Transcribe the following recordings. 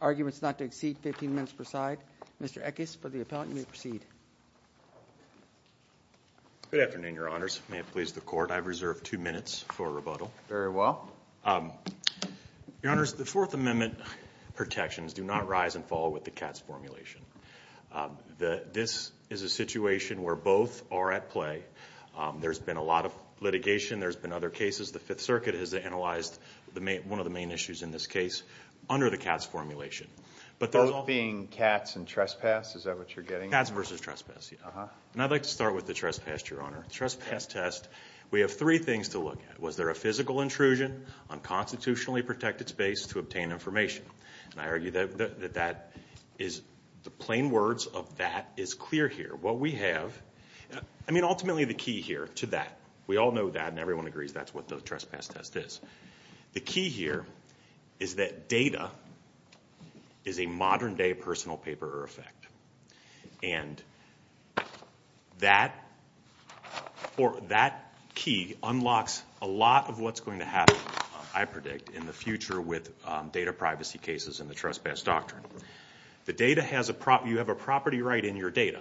arguments not to exceed 15 minutes per side. Mr. Eckes, for the appellant, you may proceed. Good afternoon, Your Honors. May it please the Court, I've reserved two minutes for rebuttal. Very well. Your Honors, the Fourth Amendment protections do not rise and fall with the C.A.T.S. formulation. This is a situation where both are at play. There's been a lot of litigation, there's been other cases. The Fifth Circuit has analyzed one of the main issues in this case under the C.A.T.S. formulation. Both being C.A.T.S. and trespass, is that what you're getting? C.A.T.S. versus trespass, yes. And I'd like to start with the trespass, Your Honor. The trespass test, we have three things to look at. Was there a physical intrusion on constitutionally protected space to obtain information? And I argue that the plain words of that is clear here. What we have, I mean ultimately the key here to that, we all know that and everyone agrees that's what the trespass test is. The key here is that data is a modern-day personal paper or effect. And that key unlocks a lot of what's going to happen, I predict, in the future with data privacy cases and the trespass doctrine. You have a property right in your data.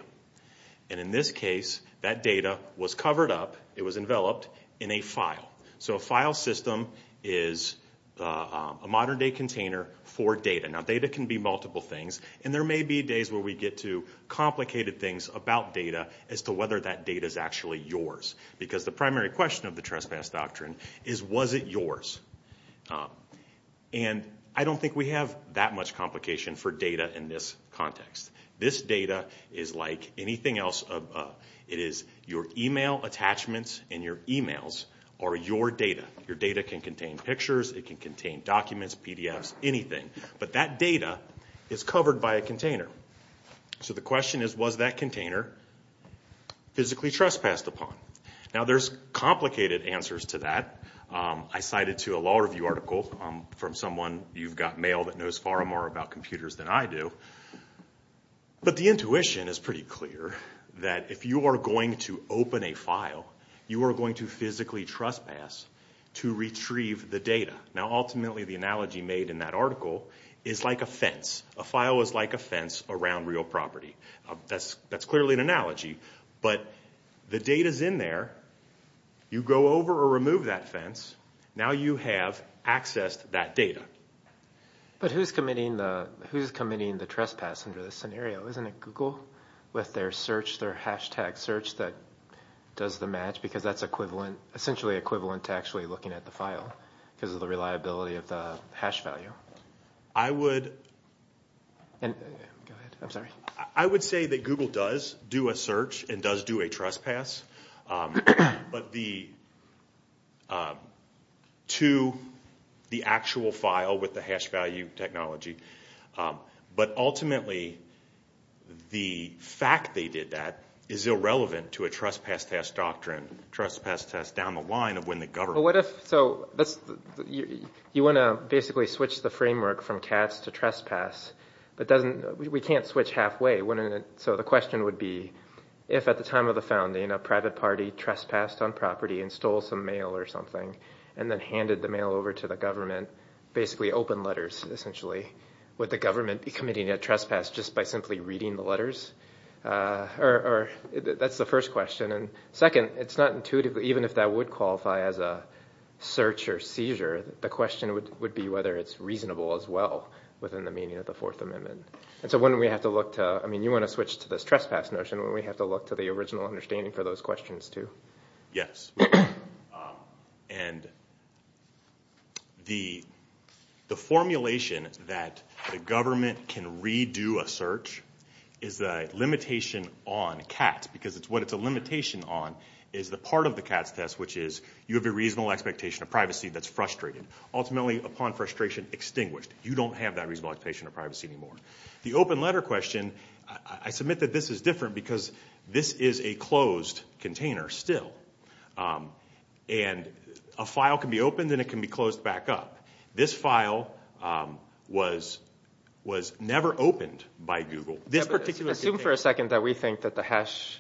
And in this case, that data was covered up, it was enveloped in a file. So a file system is a modern-day container for data. Now data can be multiple things. And there may be days where we get to complicated things about data as to whether that data is actually yours. Because the primary question of the trespass doctrine is, was it yours? And I don't think we have that much complication for data in this context. This data is like anything else. It is your email attachments and your emails are your data. Your data can contain pictures, it can contain documents, PDFs, anything. But that data is covered by a container. So the question is, was that container physically trespassed upon? Now there's complicated answers to that. I cited to a law review article from someone, you've got mail that knows far more about computers than I do. But the intuition is pretty clear that if you are going to open a file, you are going to physically trespass to retrieve the data. Now ultimately the analogy made in that article is like a fence. A file is like a fence around real property. That's clearly an analogy. But the data is in there. You go over or remove that fence. Now you have accessed that data. But who's committing the trespass under this scenario? Isn't it Google with their search, their hashtag search that does the match? Because that's equivalent, essentially equivalent to actually looking at the file because of the reliability of the hash value. I would say that Google does do a search and does do a trespass. But the, to the actual file with the hash value technology. But ultimately the fact they did that is irrelevant to a trespass test doctrine. Trespass test down the line of when the government. What if, so you want to basically switch the framework from cats to trespass. But doesn't, we can't switch halfway. So the question would be if at the time of the founding a private party trespassed on property and stole some mail or something. And then handed the mail over to the government, basically open letters essentially. Would the government be committing a trespass just by simply reading the letters? Or that's the first question. And second, it's not intuitive even if that would qualify as a search or seizure. The question would be whether it's reasonable as well within the meaning of the Fourth Amendment. And so wouldn't we have to look to, I mean you want to switch to this trespass notion. Wouldn't we have to look to the original understanding for those questions too? Yes. And the formulation that the government can redo a search is a limitation on cats. Because what it's a limitation on is the part of the cats test which is you have a reasonable expectation of privacy that's frustrated. Ultimately upon frustration extinguished. You don't have that reasonable expectation of privacy anymore. The open letter question, I submit that this is different because this is a closed container still. And a file can be opened and it can be closed back up. This file was never opened by Google. Assume for a second that we think that the hash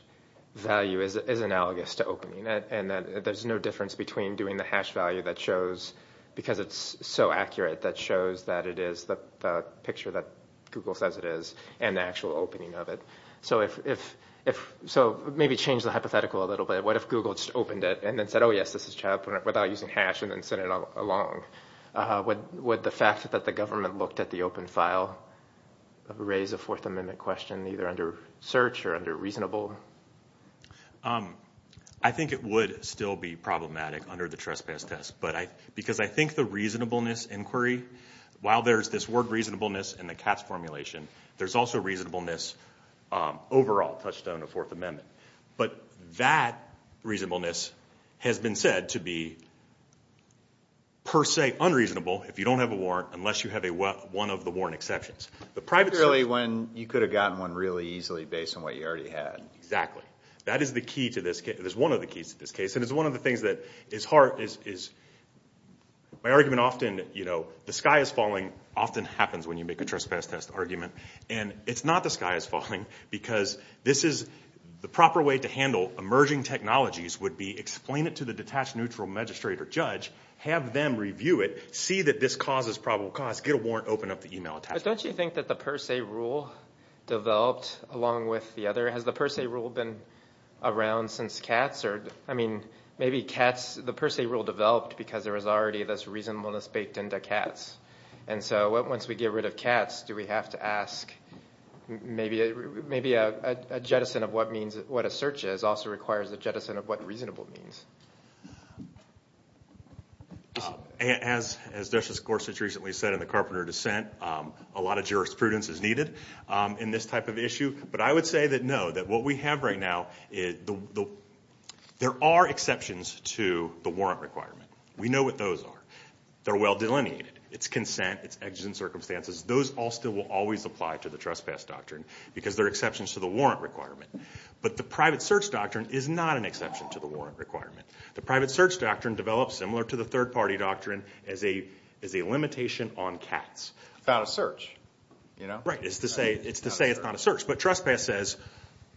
value is analogous to opening it. And that there's no difference between doing the hash value that shows, because it's so accurate, that shows that it is the picture that Google says it is and the actual opening of it. So maybe change the hypothetical a little bit. What if Google just opened it and then said, oh, yes, this is child pornography without using hash and then sent it along? Would the fact that the government looked at the open file raise a Fourth Amendment question either under search or under reasonable? I think it would still be problematic under the trespass test. Because I think the reasonableness inquiry, while there's this word reasonableness in the cats formulation, there's also reasonableness overall touched on in the Fourth Amendment. But that reasonableness has been said to be per se unreasonable if you don't have a warrant unless you have one of the warrant exceptions. Particularly when you could have gotten one really easily based on what you already had. Exactly. That is the key to this case. It is one of the keys to this case. And it's one of the things that is hard is my argument often, you know, the sky is falling often happens when you make a trespass test argument. And it's not the sky is falling because this is the proper way to handle emerging technologies would be explain it to the detached neutral magistrate or judge, have them review it, see that this causes probable cause, get a warrant, open up the email attachment. But don't you think that the per se rule developed along with the other? Has the per se rule been around since cats? I mean, maybe cats, the per se rule developed because there was already this reasonableness baked into cats. And so once we get rid of cats, do we have to ask maybe a jettison of what a search is also requires a jettison of what reasonable means. As Justice Gorsuch recently said in the Carpenter dissent, a lot of jurisprudence is needed in this type of issue. But I would say that no, that what we have right now is there are exceptions to the warrant requirement. We know what those are. They're well delineated. It's consent. It's actions and circumstances. Those all still will always apply to the trespass doctrine because they're exceptions to the warrant requirement. But the private search doctrine is not an exception to the warrant requirement. The private search doctrine develops similar to the third-party doctrine as a limitation on cats. It's not a search. Right. It's to say it's not a search. But trespass says,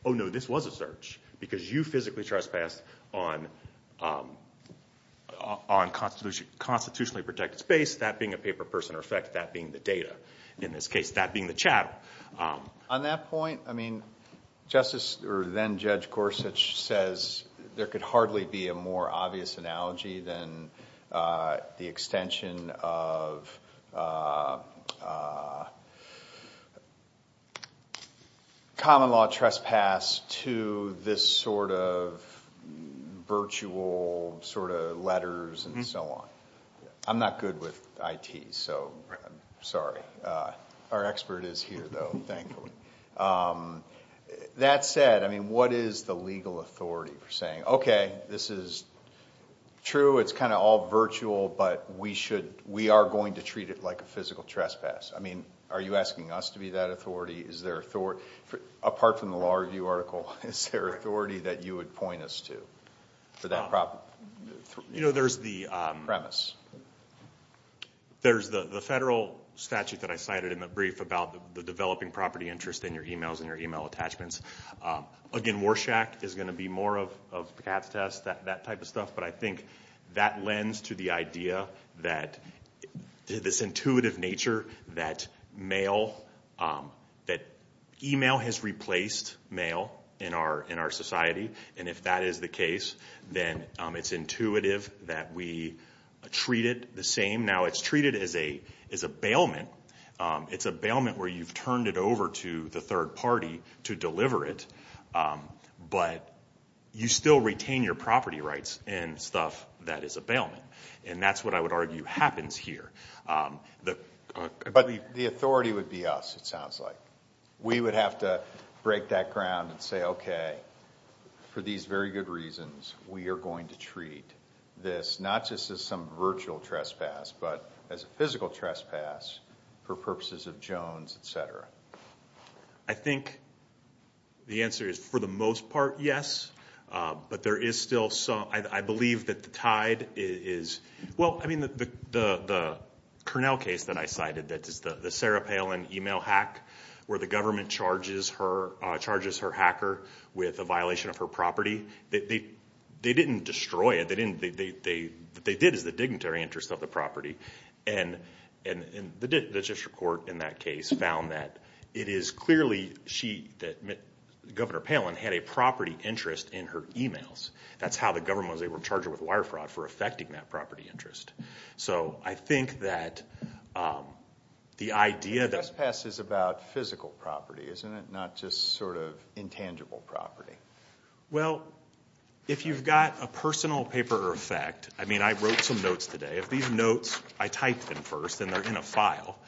oh, no, this was a search because you physically trespassed on constitutionally protected space, that being a paper person or effect, that being the data in this case, that being the chattel. On that point, then-Judge Gorsuch says there could hardly be a more obvious analogy than the extension of common law trespass to this sort of virtual sort of letters and so on. I'm not good with IT, so I'm sorry. Our expert is here, though, thankfully. That said, I mean, what is the legal authority for saying, okay, this is true. It's kind of all virtual, but we are going to treat it like a physical trespass. I mean, are you asking us to be that authority? Apart from the Law Review article, is there authority that you would point us to for that premise? There's the federal statute that I cited in the brief about the developing property interest in your e-mails and your e-mail attachments. Again, Warshak is going to be more of the cat's test, that type of stuff. But I think that lends to the idea that this intuitive nature that e-mail has replaced mail in our society. And if that is the case, then it's intuitive that we treat it the same. Now, it's treated as a bailment. It's a bailment where you've turned it over to the third party to deliver it. But you still retain your property rights and stuff that is a bailment. And that's what I would argue happens here. But the authority would be us, it sounds like. We would have to break that ground and say, okay, for these very good reasons, we are going to treat this not just as some virtual trespass but as a physical trespass for purposes of Jones, et cetera. I think the answer is, for the most part, yes. But there is still some – I believe that the tide is – well, I mean, the Cornell case that I cited, the Sarah Palin e-mail hack where the government charges her hacker with a violation of her property, they didn't destroy it. What they did is the dignitary interest of the property. And the district court in that case found that it is clearly she – Governor Palin had a property interest in her e-mails. That's how the government was able to charge her with wire fraud for affecting that property interest. So I think that the idea that – But trespass is about physical property, isn't it, not just sort of intangible property? Well, if you've got a personal paper effect – I mean, I wrote some notes today. If these notes – I typed them first and they're in a file,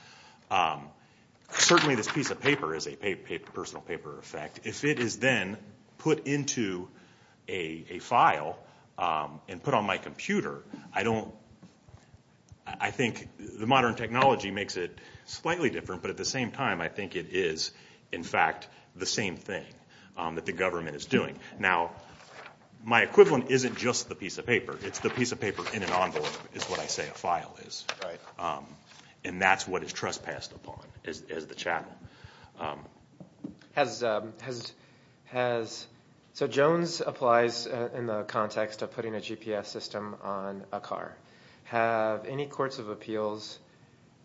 certainly this piece of paper is a personal paper effect. If it is then put into a file and put on my computer, I don't – I think the modern technology makes it slightly different, but at the same time I think it is, in fact, the same thing that the government is doing. Now, my equivalent isn't just the piece of paper. It's the piece of paper in an envelope is what I say a file is. And that's what is trespassed upon is the chattel. Has – so Jones applies in the context of putting a GPS system on a car. Have any courts of appeals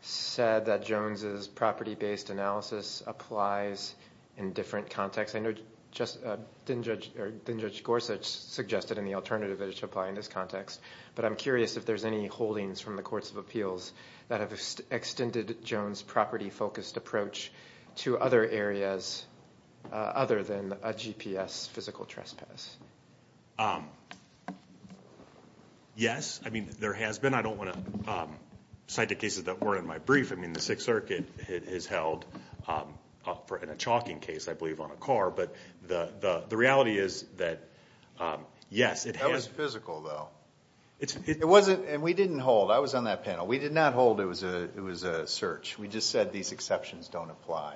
said that Jones's property-based analysis applies in different contexts? I know Judge Gorsuch suggested in the alternative that it should apply in this context, but I'm curious if there's any holdings from the courts of appeals that have extended Jones's property-focused approach to other areas other than a GPS physical trespass. Yes, I mean, there has been. I don't want to cite the cases that weren't in my brief. I mean, the Sixth Circuit has held in a chalking case, I believe, on a car. But the reality is that, yes, it has. That was physical, though. It wasn't – and we didn't hold. I was on that panel. We did not hold it was a search. We just said these exceptions don't apply.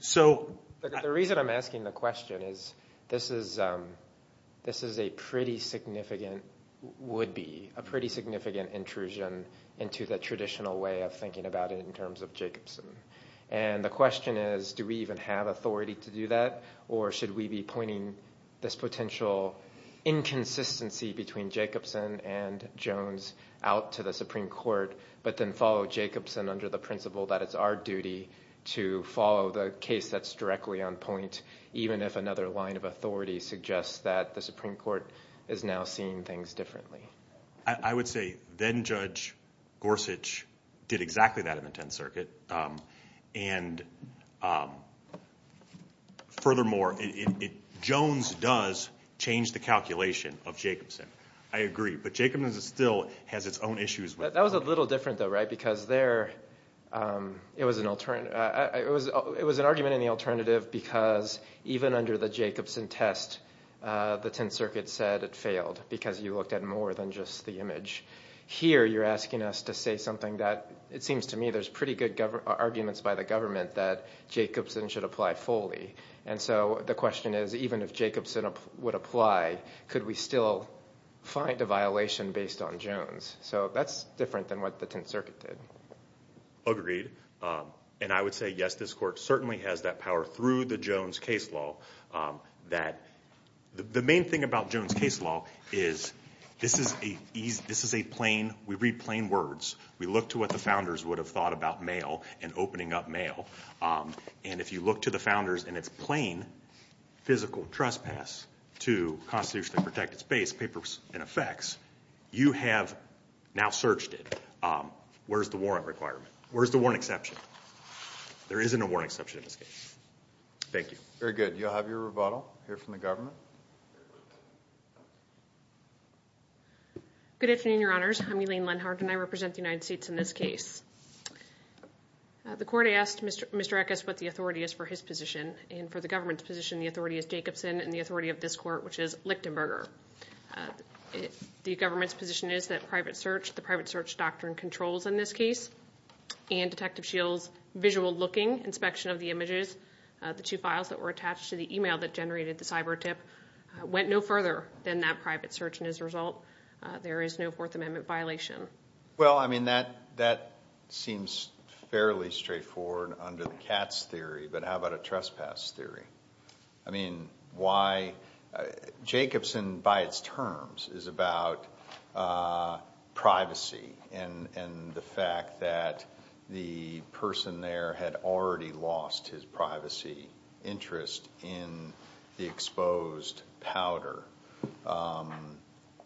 So – The reason I'm asking the question is this is a pretty significant would-be, a pretty significant intrusion into the traditional way of thinking about it in terms of Jacobson. And the question is do we even have authority to do that, or should we be pointing this potential inconsistency between Jacobson and Jones out to the Supreme Court but then follow Jacobson under the principle that it's our duty to follow the case that's directly on point, even if another line of authority suggests that the Supreme Court is now seeing things differently. I would say then-Judge Gorsuch did exactly that in the Tenth Circuit. And furthermore, Jones does change the calculation of Jacobson. I agree. But Jacobson still has its own issues with it. That was a little different, though, right? It was an argument in the alternative because even under the Jacobson test, the Tenth Circuit said it failed because you looked at more than just the image. Here you're asking us to say something that it seems to me there's pretty good arguments by the government that Jacobson should apply fully. And so the question is even if Jacobson would apply, could we still find a violation based on Jones? So that's different than what the Tenth Circuit did. Agreed. And I would say, yes, this Court certainly has that power through the Jones case law. The main thing about Jones case law is this is a plain, we read plain words. We look to what the founders would have thought about mail and opening up mail. And if you look to the founders in its plain physical trespass to constitutionally protected space, papers, and effects, you have now searched it. Where's the warrant requirement? Where's the warrant exception? There isn't a warrant exception in this case. Thank you. Very good. You'll have your rebuttal here from the government. Good afternoon, Your Honors. I'm Elaine Lenhardt, and I represent the United States in this case. The Court asked Mr. Eckes what the authority is for his position, and for the government's position, the authority is Jacobson, and the authority of this Court, which is Lichtenberger. The government's position is that the private search doctrine controls in this case, and Detective Shields' visual-looking inspection of the images, the two files that were attached to the email that generated the cyber tip, went no further than that private search, and as a result, there is no Fourth Amendment violation. Well, I mean, that seems fairly straightforward under the CATS theory, but how about a trespass theory? I mean, why? Jacobson, by its terms, is about privacy and the fact that the person there had already lost his privacy interest in the exposed powder.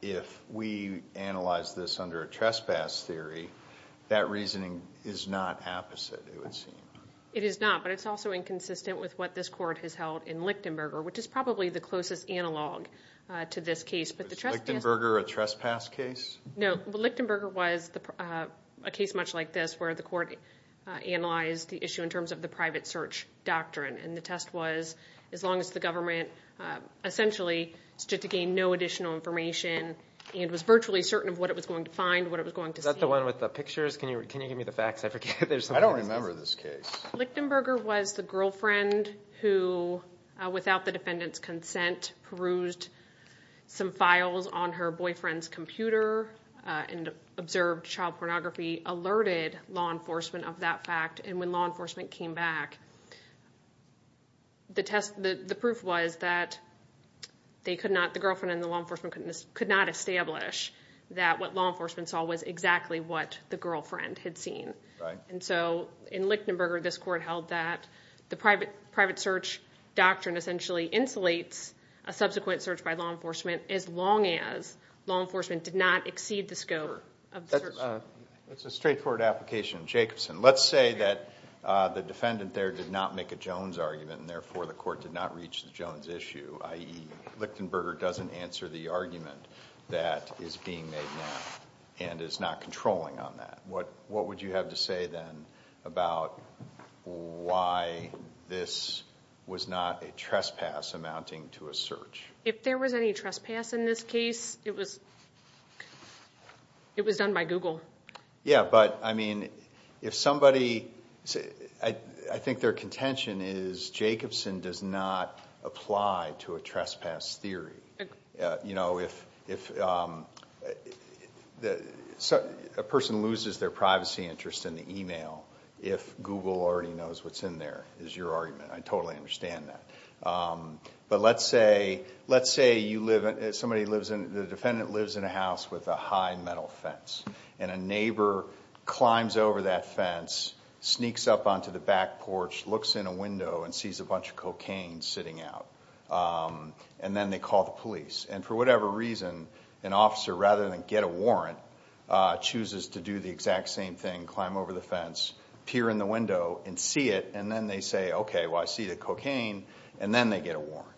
If we analyze this under a trespass theory, that reasoning is not opposite, it would seem. It is not, but it's also inconsistent with what this Court has held in Lichtenberger, which is probably the closest analog to this case. Was Lichtenberger a trespass case? No, but Lichtenberger was a case much like this, where the Court analyzed the issue in terms of the private search doctrine, and the test was as long as the government essentially stood to gain no additional information and was virtually certain of what it was going to find, what it was going to see. Is that the one with the pictures? Can you give me the facts? I forget. I don't remember this case. Lichtenberger was the girlfriend who, without the defendant's consent, perused some files on her boyfriend's computer and observed child pornography, alerted law enforcement of that fact, and when law enforcement came back, the proof was that the girlfriend and the law enforcement could not establish that what law enforcement saw was exactly what the girlfriend had seen. In Lichtenberger, this Court held that the private search doctrine essentially insulates a subsequent search by law enforcement as long as law enforcement did not exceed the scope of the search. That's a straightforward application of Jacobson. Let's say that the defendant there did not make a Jones argument and therefore the Court did not reach the Jones issue, i.e., Lichtenberger doesn't answer the argument that is being made now and is not controlling on that. What would you have to say then about why this was not a trespass amounting to a search? If there was any trespass in this case, it was done by Google. Yes, but I think their contention is Jacobson does not apply to a trespass theory. If a person loses their privacy interest in the e-mail, if Google already knows what's in there is your argument. I totally understand that. But let's say the defendant lives in a house with a high metal fence and a neighbor climbs over that fence, sneaks up onto the back porch, looks in a window and sees a bunch of cocaine sitting out, and then they call the police. For whatever reason, an officer, rather than get a warrant, chooses to do the exact same thing, climb over the fence, peer in the window and see it, and then they say, okay, well, I see the cocaine, and then they get a warrant.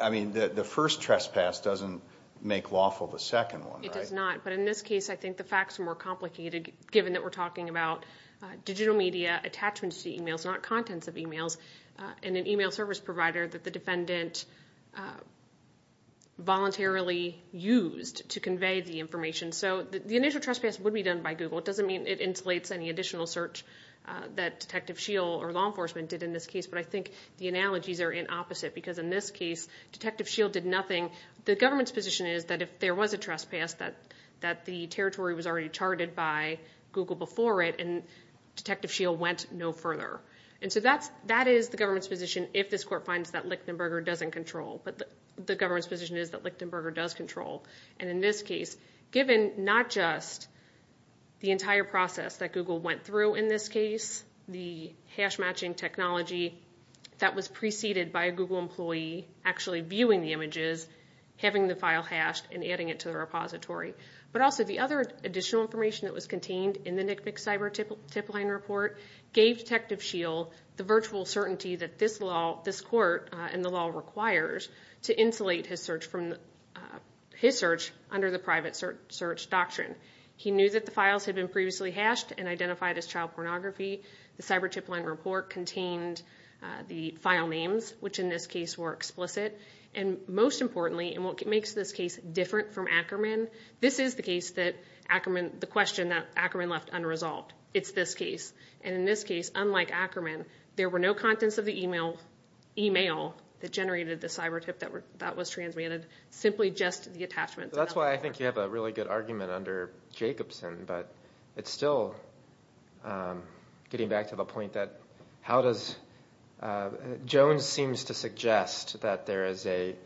I mean, the first trespass doesn't make lawful the second one, right? It does not, but in this case I think the facts are more complicated given that we're talking about digital media attachments to e-mails, not contents of e-mails, and an e-mail service provider that the defendant voluntarily used to convey the information. So the initial trespass would be done by Google. It doesn't mean it insulates any additional search that Detective Shiel or law enforcement did in this case, but I think the analogies are in opposite because in this case Detective Shiel did nothing. The government's position is that if there was a trespass, that the territory was already charted by Google before it, and Detective Shiel went no further. And so that is the government's position if this court finds that Lichtenberger doesn't control, but the government's position is that Lichtenberger does control. And in this case, given not just the entire process that Google went through in this case, the hash-matching technology that was preceded by a Google employee actually viewing the images, having the file hashed, and adding it to the repository, but also the other additional information that was contained in the NCMEC Cyber Tip-Line Report gave Detective Shiel the virtual certainty that this court and the law requires to insulate his search under the private search doctrine. He knew that the files had been previously hashed and identified as child pornography. The Cyber Tip-Line Report contained the file names, which in this case were explicit. And most importantly, and what makes this case different from Ackerman, this is the question that Ackerman left unresolved. It's this case, and in this case, unlike Ackerman, there were no contents of the email that generated the cyber tip that was transmitted, simply just the attachments. That's why I think you have a really good argument under Jacobson, but it's still getting back to the point that how does – Jones seems to suggest that there is a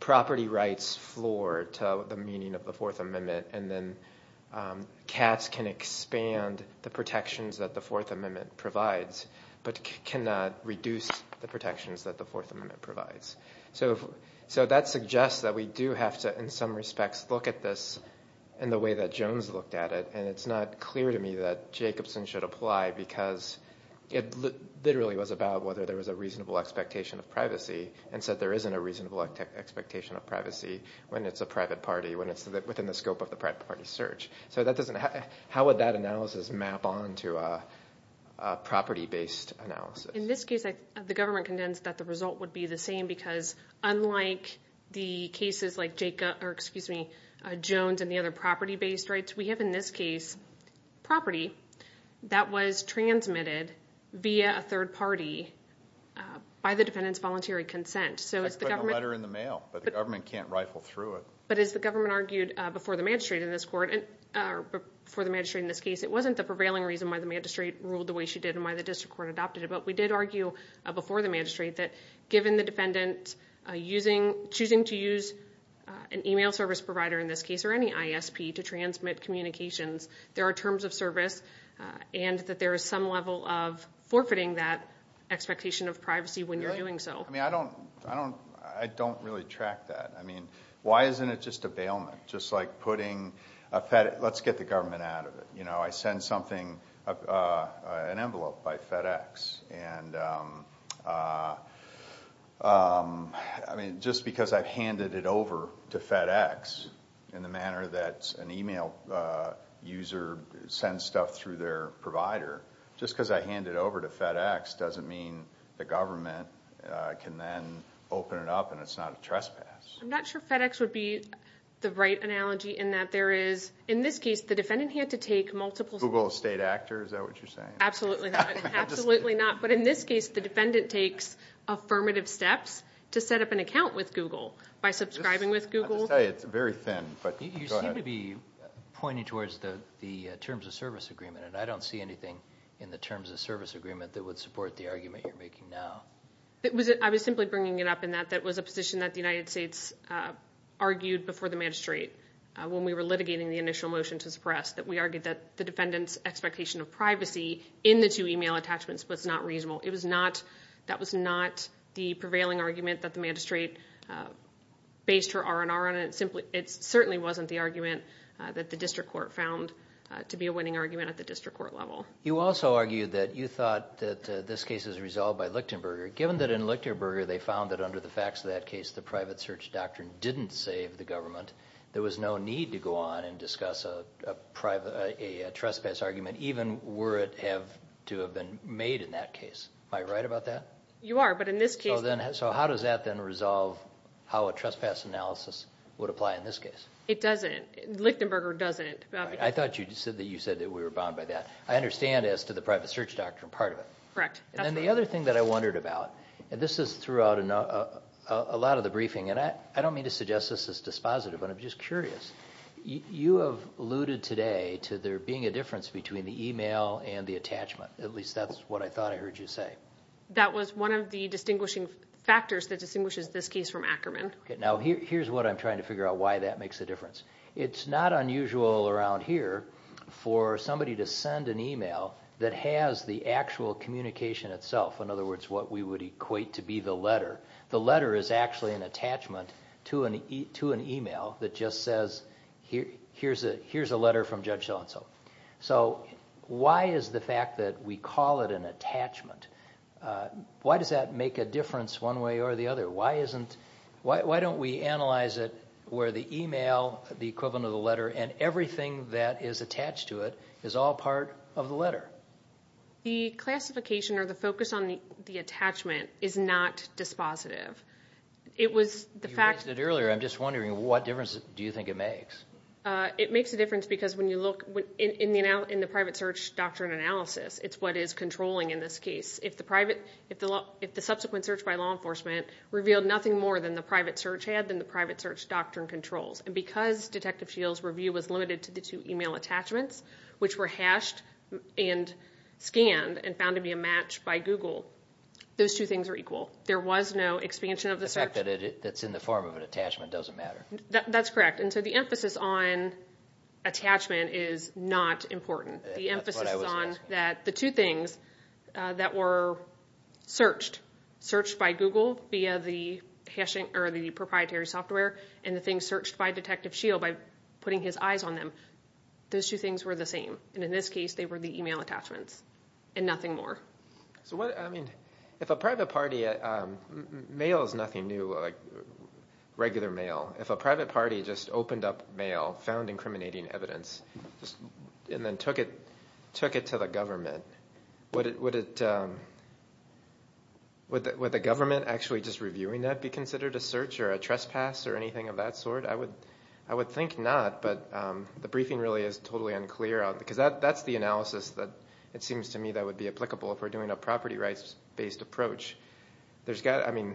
property rights floor to the meaning of the Fourth Amendment, and then Katz can expand the protections that the Fourth Amendment provides. But cannot reduce the protections that the Fourth Amendment provides. So that suggests that we do have to, in some respects, look at this in the way that Jones looked at it, and it's not clear to me that Jacobson should apply because it literally was about whether there was a reasonable expectation of privacy, and said there isn't a reasonable expectation of privacy when it's a private party, when it's within the scope of the private party's search. So that doesn't – how would that analysis map on to a property-based analysis? In this case, the government contends that the result would be the same because unlike the cases like Jones and the other property-based rights, we have in this case property that was transmitted via a third party by the defendant's voluntary consent. So it's the government – Just put a letter in the mail, but the government can't rifle through it. But as the government argued before the magistrate in this case, it wasn't the prevailing reason why the magistrate ruled the way she did and why the district court adopted it, but we did argue before the magistrate that given the defendant choosing to use an email service provider in this case, or any ISP, to transmit communications, there are terms of service, and that there is some level of forfeiting that expectation of privacy when you're doing so. I don't really track that. I mean, why isn't it just a bailment? Just like putting a Fed – let's get the government out of it. I send something, an envelope by FedEx, and just because I've handed it over to FedEx in the manner that an email user sends stuff through their provider, just because I hand it over to FedEx doesn't mean the government can then open it up and it's not a trespass. I'm not sure FedEx would be the right analogy in that there is – in this case, the defendant had to take multiple – Google state actor, is that what you're saying? Absolutely not. Absolutely not. But in this case, the defendant takes affirmative steps to set up an account with Google by subscribing with Google. I'll just tell you, it's very thin. You seem to be pointing towards the terms of service agreement, and I don't see anything in the terms of service agreement that would support the argument you're making now. I was simply bringing it up in that that was a position that the United States argued before the magistrate when we were litigating the initial motion to suppress, that we argued that the defendant's expectation of privacy in the two email attachments was not reasonable. It was not – that was not the prevailing argument that the magistrate based her R&R on. It certainly wasn't the argument that the district court found to be a winning argument at the district court level. You also argued that you thought that this case is resolved by Lichtenberger. Given that in Lichtenberger they found that under the facts of that case the private search doctrine didn't save the government, there was no need to go on and discuss a trespass argument, even were it to have been made in that case. Am I right about that? You are, but in this case – So how does that then resolve how a trespass analysis would apply in this case? It doesn't. Lichtenberger doesn't. I thought you said that we were bound by that. I understand as to the private search doctrine part of it. Correct. And then the other thing that I wondered about, and this is throughout a lot of the briefing, and I don't mean to suggest this is dispositive, but I'm just curious. You have alluded today to there being a difference between the email and the attachment. At least that's what I thought I heard you say. That was one of the distinguishing factors that distinguishes this case from Ackerman. Now here's what I'm trying to figure out why that makes a difference. It's not unusual around here for somebody to send an email that has the actual communication itself. In other words, what we would equate to be the letter. The letter is actually an attachment to an email that just says, here's a letter from Judge So-and-so. So why is the fact that we call it an attachment, why does that make a difference one way or the other? Why don't we analyze it where the email, the equivalent of the letter, and everything that is attached to it is all part of the letter? The classification or the focus on the attachment is not dispositive. You raised it earlier. I'm just wondering what difference do you think it makes? It makes a difference because when you look in the private search doctrine analysis, it's what is controlling in this case. If the subsequent search by law enforcement revealed nothing more than the private search had than the private search doctrine controls, and because Detective Shields' review was limited to the two email attachments, which were hashed and scanned and found to be a match by Google, those two things are equal. There was no expansion of the search. The fact that it's in the form of an attachment doesn't matter. That's correct. And so the emphasis on attachment is not important. The emphasis is on that the two things that were searched, searched by Google via the proprietary software and the things searched by Detective Shields by putting his eyes on them, those two things were the same. In this case, they were the email attachments and nothing more. If a private party, mail is nothing new like regular mail. If a private party just opened up mail, found incriminating evidence, and then took it to the government, would the government actually just reviewing that be considered a search or a trespass or anything of that sort? I would think not, but the briefing really is totally unclear. Because that's the analysis that it seems to me that would be applicable if we're doing a property rights-based approach. I mean,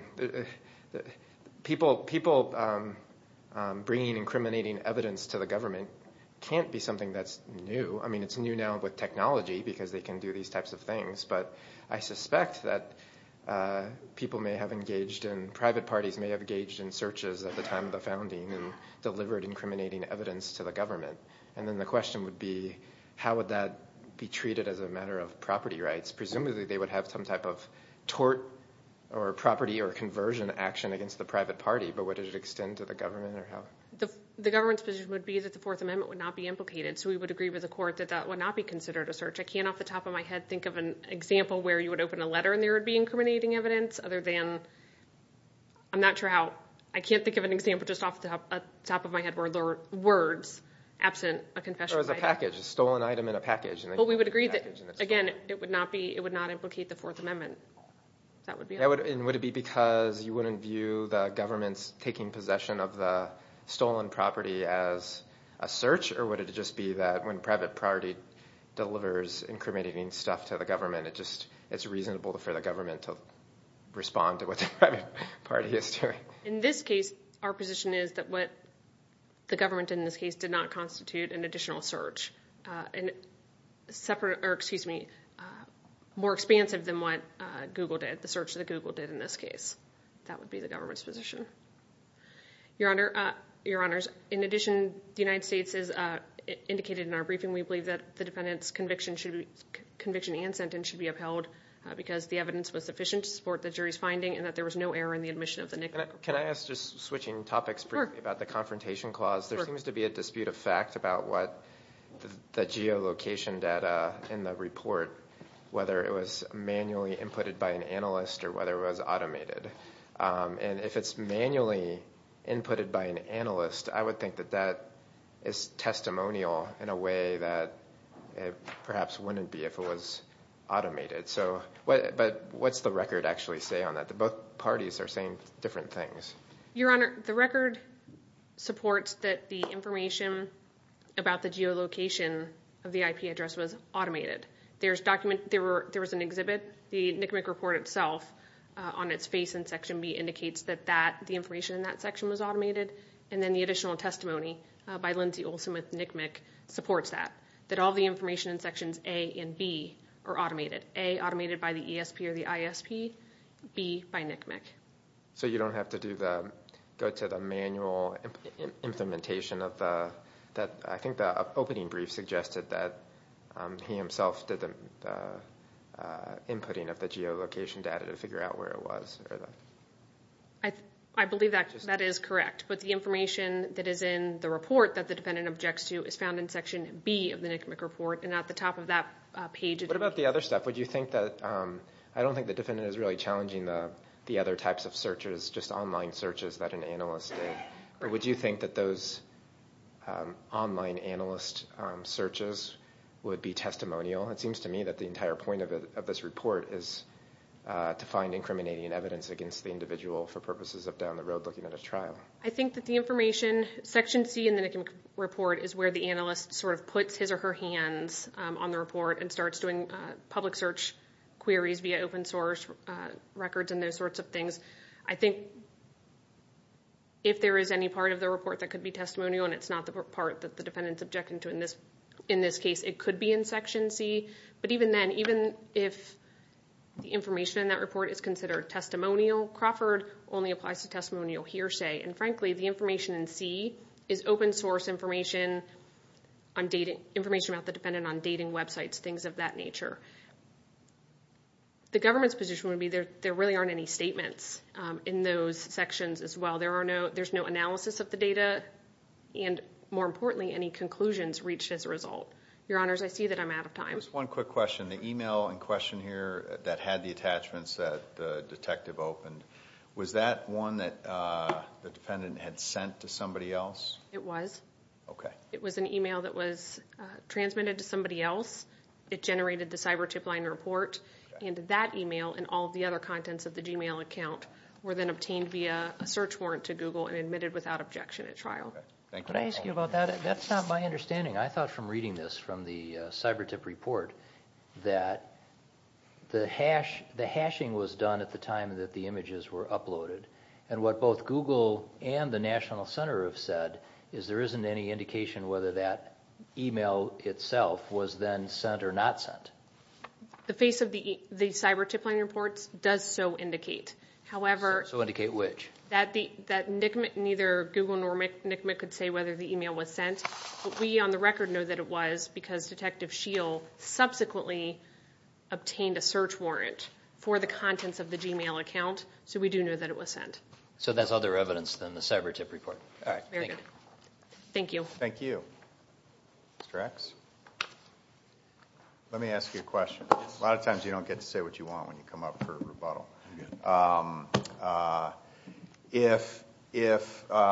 people bringing incriminating evidence to the government can't be something that's new. I mean, it's new now with technology because they can do these types of things. But I suspect that people may have engaged and private parties may have engaged in searches at the time of the founding and delivered incriminating evidence to the government. And then the question would be, how would that be treated as a matter of property rights? Presumably they would have some type of tort or property or conversion action against the private party, but would it extend to the government? The government's position would be that the Fourth Amendment would not be implicated. So we would agree with the court that that would not be considered a search. I can't off the top of my head think of an example where you would open a letter and there would be incriminating evidence other than – I'm not sure how – I can't think of an example just off the top of my head where there were words absent a confession. There was a package, a stolen item in a package. Well, we would agree that, again, it would not implicate the Fourth Amendment. That would be it. And would it be because you wouldn't view the government's taking possession of the stolen property as a search, or would it just be that when a private party delivers incriminating stuff to the government, it's reasonable for the government to respond to what the private party is doing? In this case, our position is that what the government did in this case did not constitute an additional search. A separate – or excuse me, more expansive than what Google did, the search that Google did in this case. That would be the government's position. Your Honor, in addition, the United States has indicated in our briefing we believe that the defendant's conviction and sentence should be upheld because the evidence was sufficient to support the jury's finding and that there was no error in the admission of the nickel. Can I ask, just switching topics briefly about the confrontation clause, there seems to be a dispute of fact about what the geolocation data in the report, whether it was manually inputted by an analyst or whether it was automated. And if it's manually inputted by an analyst, I would think that that is testimonial in a way that it perhaps wouldn't be if it was automated. But what's the record actually say on that? Both parties are saying different things. Your Honor, the record supports that the information about the geolocation of the IP address was automated. There was an exhibit. The NCMEC report itself, on its face in Section B, indicates that the information in that section was automated. And then the additional testimony by Lindsay Olsen with NCMEC supports that, that all the information in Sections A and B are automated, A, automated by the ESP or the ISP, B, by NCMEC. So you don't have to go to the manual implementation of the – I think the opening brief suggested that he himself did the inputting of the geolocation data to figure out where it was. I believe that is correct. But the information that is in the report that the defendant objects to is found in Section B of the NCMEC report. And at the top of that page – What about the other stuff? Would you think that – I don't think the defendant is really challenging the other types of searches, just online searches that an analyst did. Or would you think that those online analyst searches would be testimonial? It seems to me that the entire point of this report is to find incriminating evidence against the individual for purposes of down the road looking at a trial. I think that the information – Section C in the NCMEC report is where the analyst sort of puts his or her hands on the report and starts doing public search queries via open source records and those sorts of things. I think if there is any part of the report that could be testimonial, and it's not the part that the defendant is objecting to in this case, it could be in Section C. But even then, even if the information in that report is considered testimonial, Crawford only applies to testimonial hearsay. And frankly, the information in C is open source information, information about the defendant on dating websites, things of that nature. The government's position would be there really aren't any statements in those sections as well. There's no analysis of the data, and more importantly, any conclusions reached as a result. Your Honors, I see that I'm out of time. Just one quick question. The email in question here that had the attachments that the detective opened, was that one that the defendant had sent to somebody else? It was. Okay. It was an email that was transmitted to somebody else. It generated the CyberTIP line report, and that email and all the other contents of the Gmail account were then obtained via a search warrant to Google and admitted without objection at trial. Thank you. Could I ask you about that? That's not my understanding. I thought from reading this from the CyberTIP report that the hashing was done at the time that the images were uploaded, and what both Google and the National Center have said is there isn't any indication whether that email itself was then sent or not sent. The face of the CyberTIP line reports does so indicate. So indicate which? That neither Google nor NCMEC could say whether the email was sent. But we on the record know that it was because Detective Scheel subsequently obtained a search warrant for the contents of the Gmail account, so we do know that it was sent. So that's other evidence than the CyberTIP report. All right. Thank you. Thank you. Thank you. Mr. X? Let me ask you a question. A lot of times you don't get to say what you want when you come up for rebuttal. If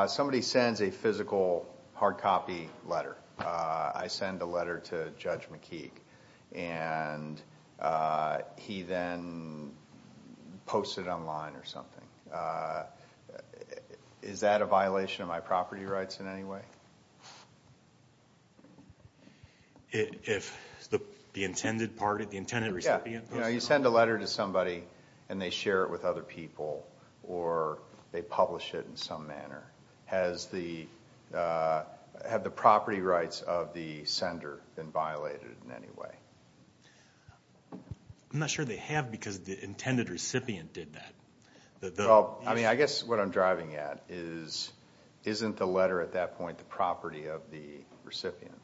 somebody sends a physical hard copy letter, I send a letter to Judge McKeague, and he then posts it online or something, is that a violation of my property rights in any way? If the intended recipient posts it online? You know, you send a letter to somebody and they share it with other people or they publish it in some manner. Have the property rights of the sender been violated in any way? I'm not sure they have because the intended recipient did that. I mean, I guess what I'm driving at is isn't the letter at that point the property of the recipient?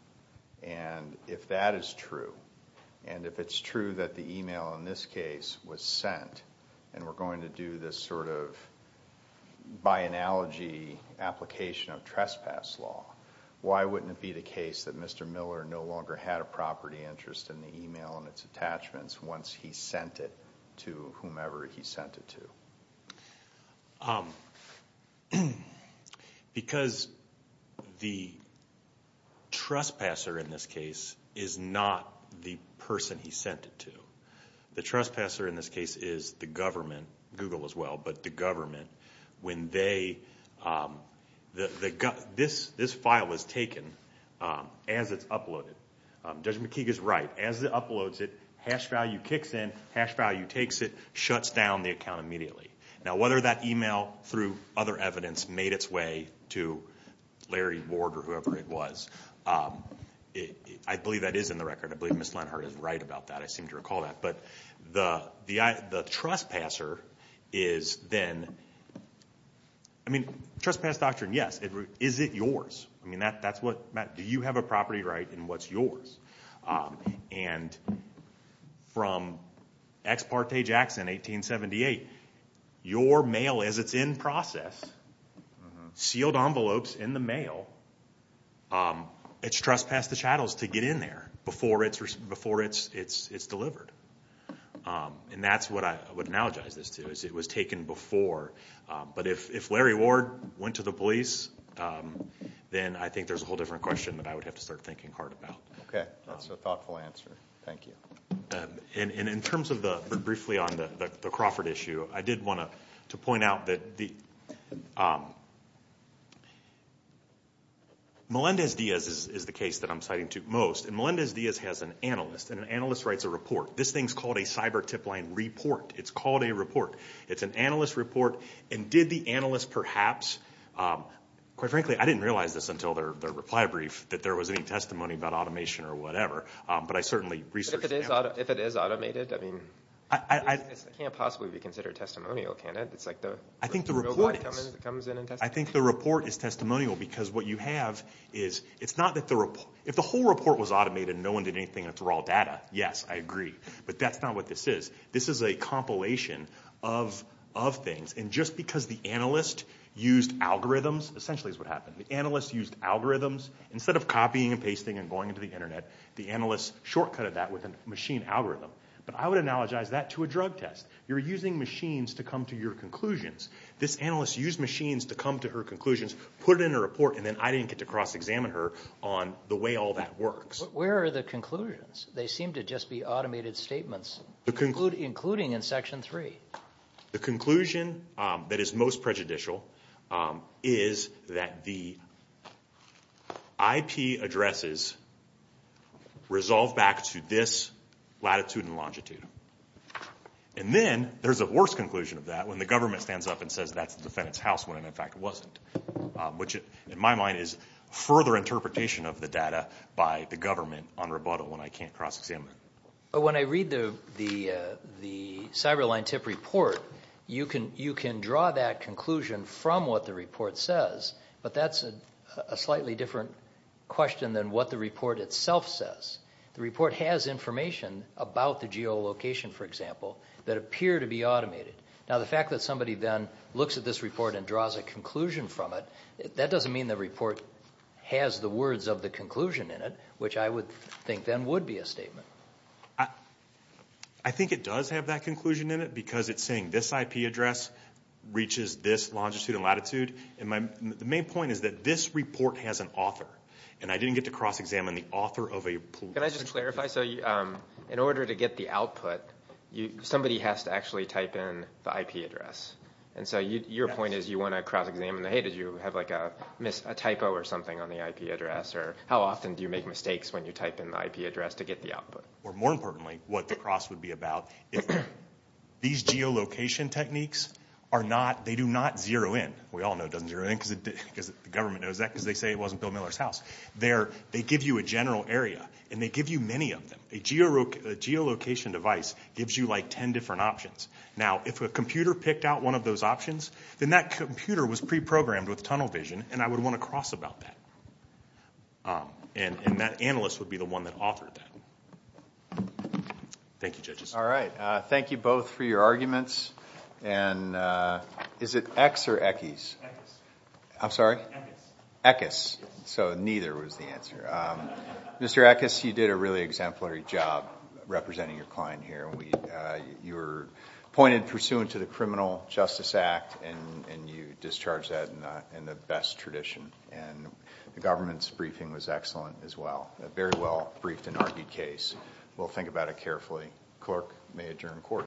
And if that is true, and if it's true that the email in this case was sent, and we're going to do this sort of by analogy application of trespass law, why wouldn't it be the case that Mr. Miller no longer had a property interest in the email and its attachments once he sent it to whomever he sent it to? Because the trespasser in this case is not the person he sent it to. The trespasser in this case is the government, Google as well, but the government. This file was taken as it's uploaded. Judge McKeague is right. As it uploads it, hash value kicks in, hash value takes it, shuts down the account immediately. Now, whether that email through other evidence made its way to Larry Ward or whoever it was, I believe that is in the record. I believe Ms. Lenhart is right about that. I seem to recall that. But the trespasser is then, I mean, trespass doctrine, yes. Is it yours? I mean, Matt, do you have a property right and what's yours? And from Ex Parte Jackson, 1878, your mail, as it's in process, sealed envelopes in the mail, it's trespassed the chattels to get in there before it's delivered. And that's what I would analogize this to, is it was taken before. But if Larry Ward went to the police, then I think there's a whole different question that I would have to start thinking hard about. Okay. That's a thoughtful answer. Thank you. And in terms of the, briefly on the Crawford issue, I did want to point out that Melendez-Diaz is the case that I'm citing to most. And Melendez-Diaz has an analyst, and an analyst writes a report. This thing's called a cyber tip line report. It's called a report. It's an analyst report. And did the analyst perhaps, quite frankly, I didn't realize this until their reply brief, that there was any testimony about automation or whatever. But I certainly researched that. If it is automated, I mean, it can't possibly be considered testimonial, can it? It's like the robot comes in and testifies. I think the report is testimonial because what you have is, it's not that the report, if the whole report was automated and no one did anything with the raw data, yes, I agree. But that's not what this is. This is a compilation of things. And just because the analyst used algorithms, essentially is what happened. The analyst used algorithms. Instead of copying and pasting and going into the Internet, the analyst shortcutted that with a machine algorithm. But I would analogize that to a drug test. You're using machines to come to your conclusions. This analyst used machines to come to her conclusions, put it in a report, and then I didn't get to cross-examine her on the way all that works. Where are the conclusions? They seem to just be automated statements. Including in Section 3. The conclusion that is most prejudicial is that the IP addresses resolve back to this latitude and longitude. And then there's a worse conclusion of that when the government stands up and says that's the defendant's house when, in fact, it wasn't, which in my mind is further interpretation of the data by the government on rebuttal when I can't cross-examine it. When I read the Cyberline tip report, you can draw that conclusion from what the report says, but that's a slightly different question than what the report itself says. The report has information about the geolocation, for example, that appear to be automated. Now, the fact that somebody then looks at this report and draws a conclusion from it, that doesn't mean the report has the words of the conclusion in it, which I would think then would be a statement. I think it does have that conclusion in it because it's saying this IP address reaches this longitude and latitude. And the main point is that this report has an author, and I didn't get to cross-examine the author of a pool. Can I just clarify? So in order to get the output, somebody has to actually type in the IP address. And so your point is you want to cross-examine the, hey, did you have like a typo or something on the IP address? Or how often do you make mistakes when you type in the IP address to get the output? More importantly, what the cross would be about, these geolocation techniques are not, they do not zero in. We all know it doesn't zero in because the government knows that because they say it wasn't Bill Miller's house. They give you a general area, and they give you many of them. A geolocation device gives you like ten different options. Now, if a computer picked out one of those options, then that computer was pre-programmed with tunnel vision, and I would want to cross about that. And that analyst would be the one that authored that. Thank you, judges. All right. Thank you both for your arguments. And is it X or Equis? Equis. I'm sorry? Equis. Equis. So neither was the answer. Mr. Equis, you did a really exemplary job representing your client here. You were pointed pursuant to the Criminal Justice Act, and you discharged that in the best tradition. And the government's briefing was excellent as well. A very well briefed and argued case. We'll think about it carefully. Clerk may adjourn court.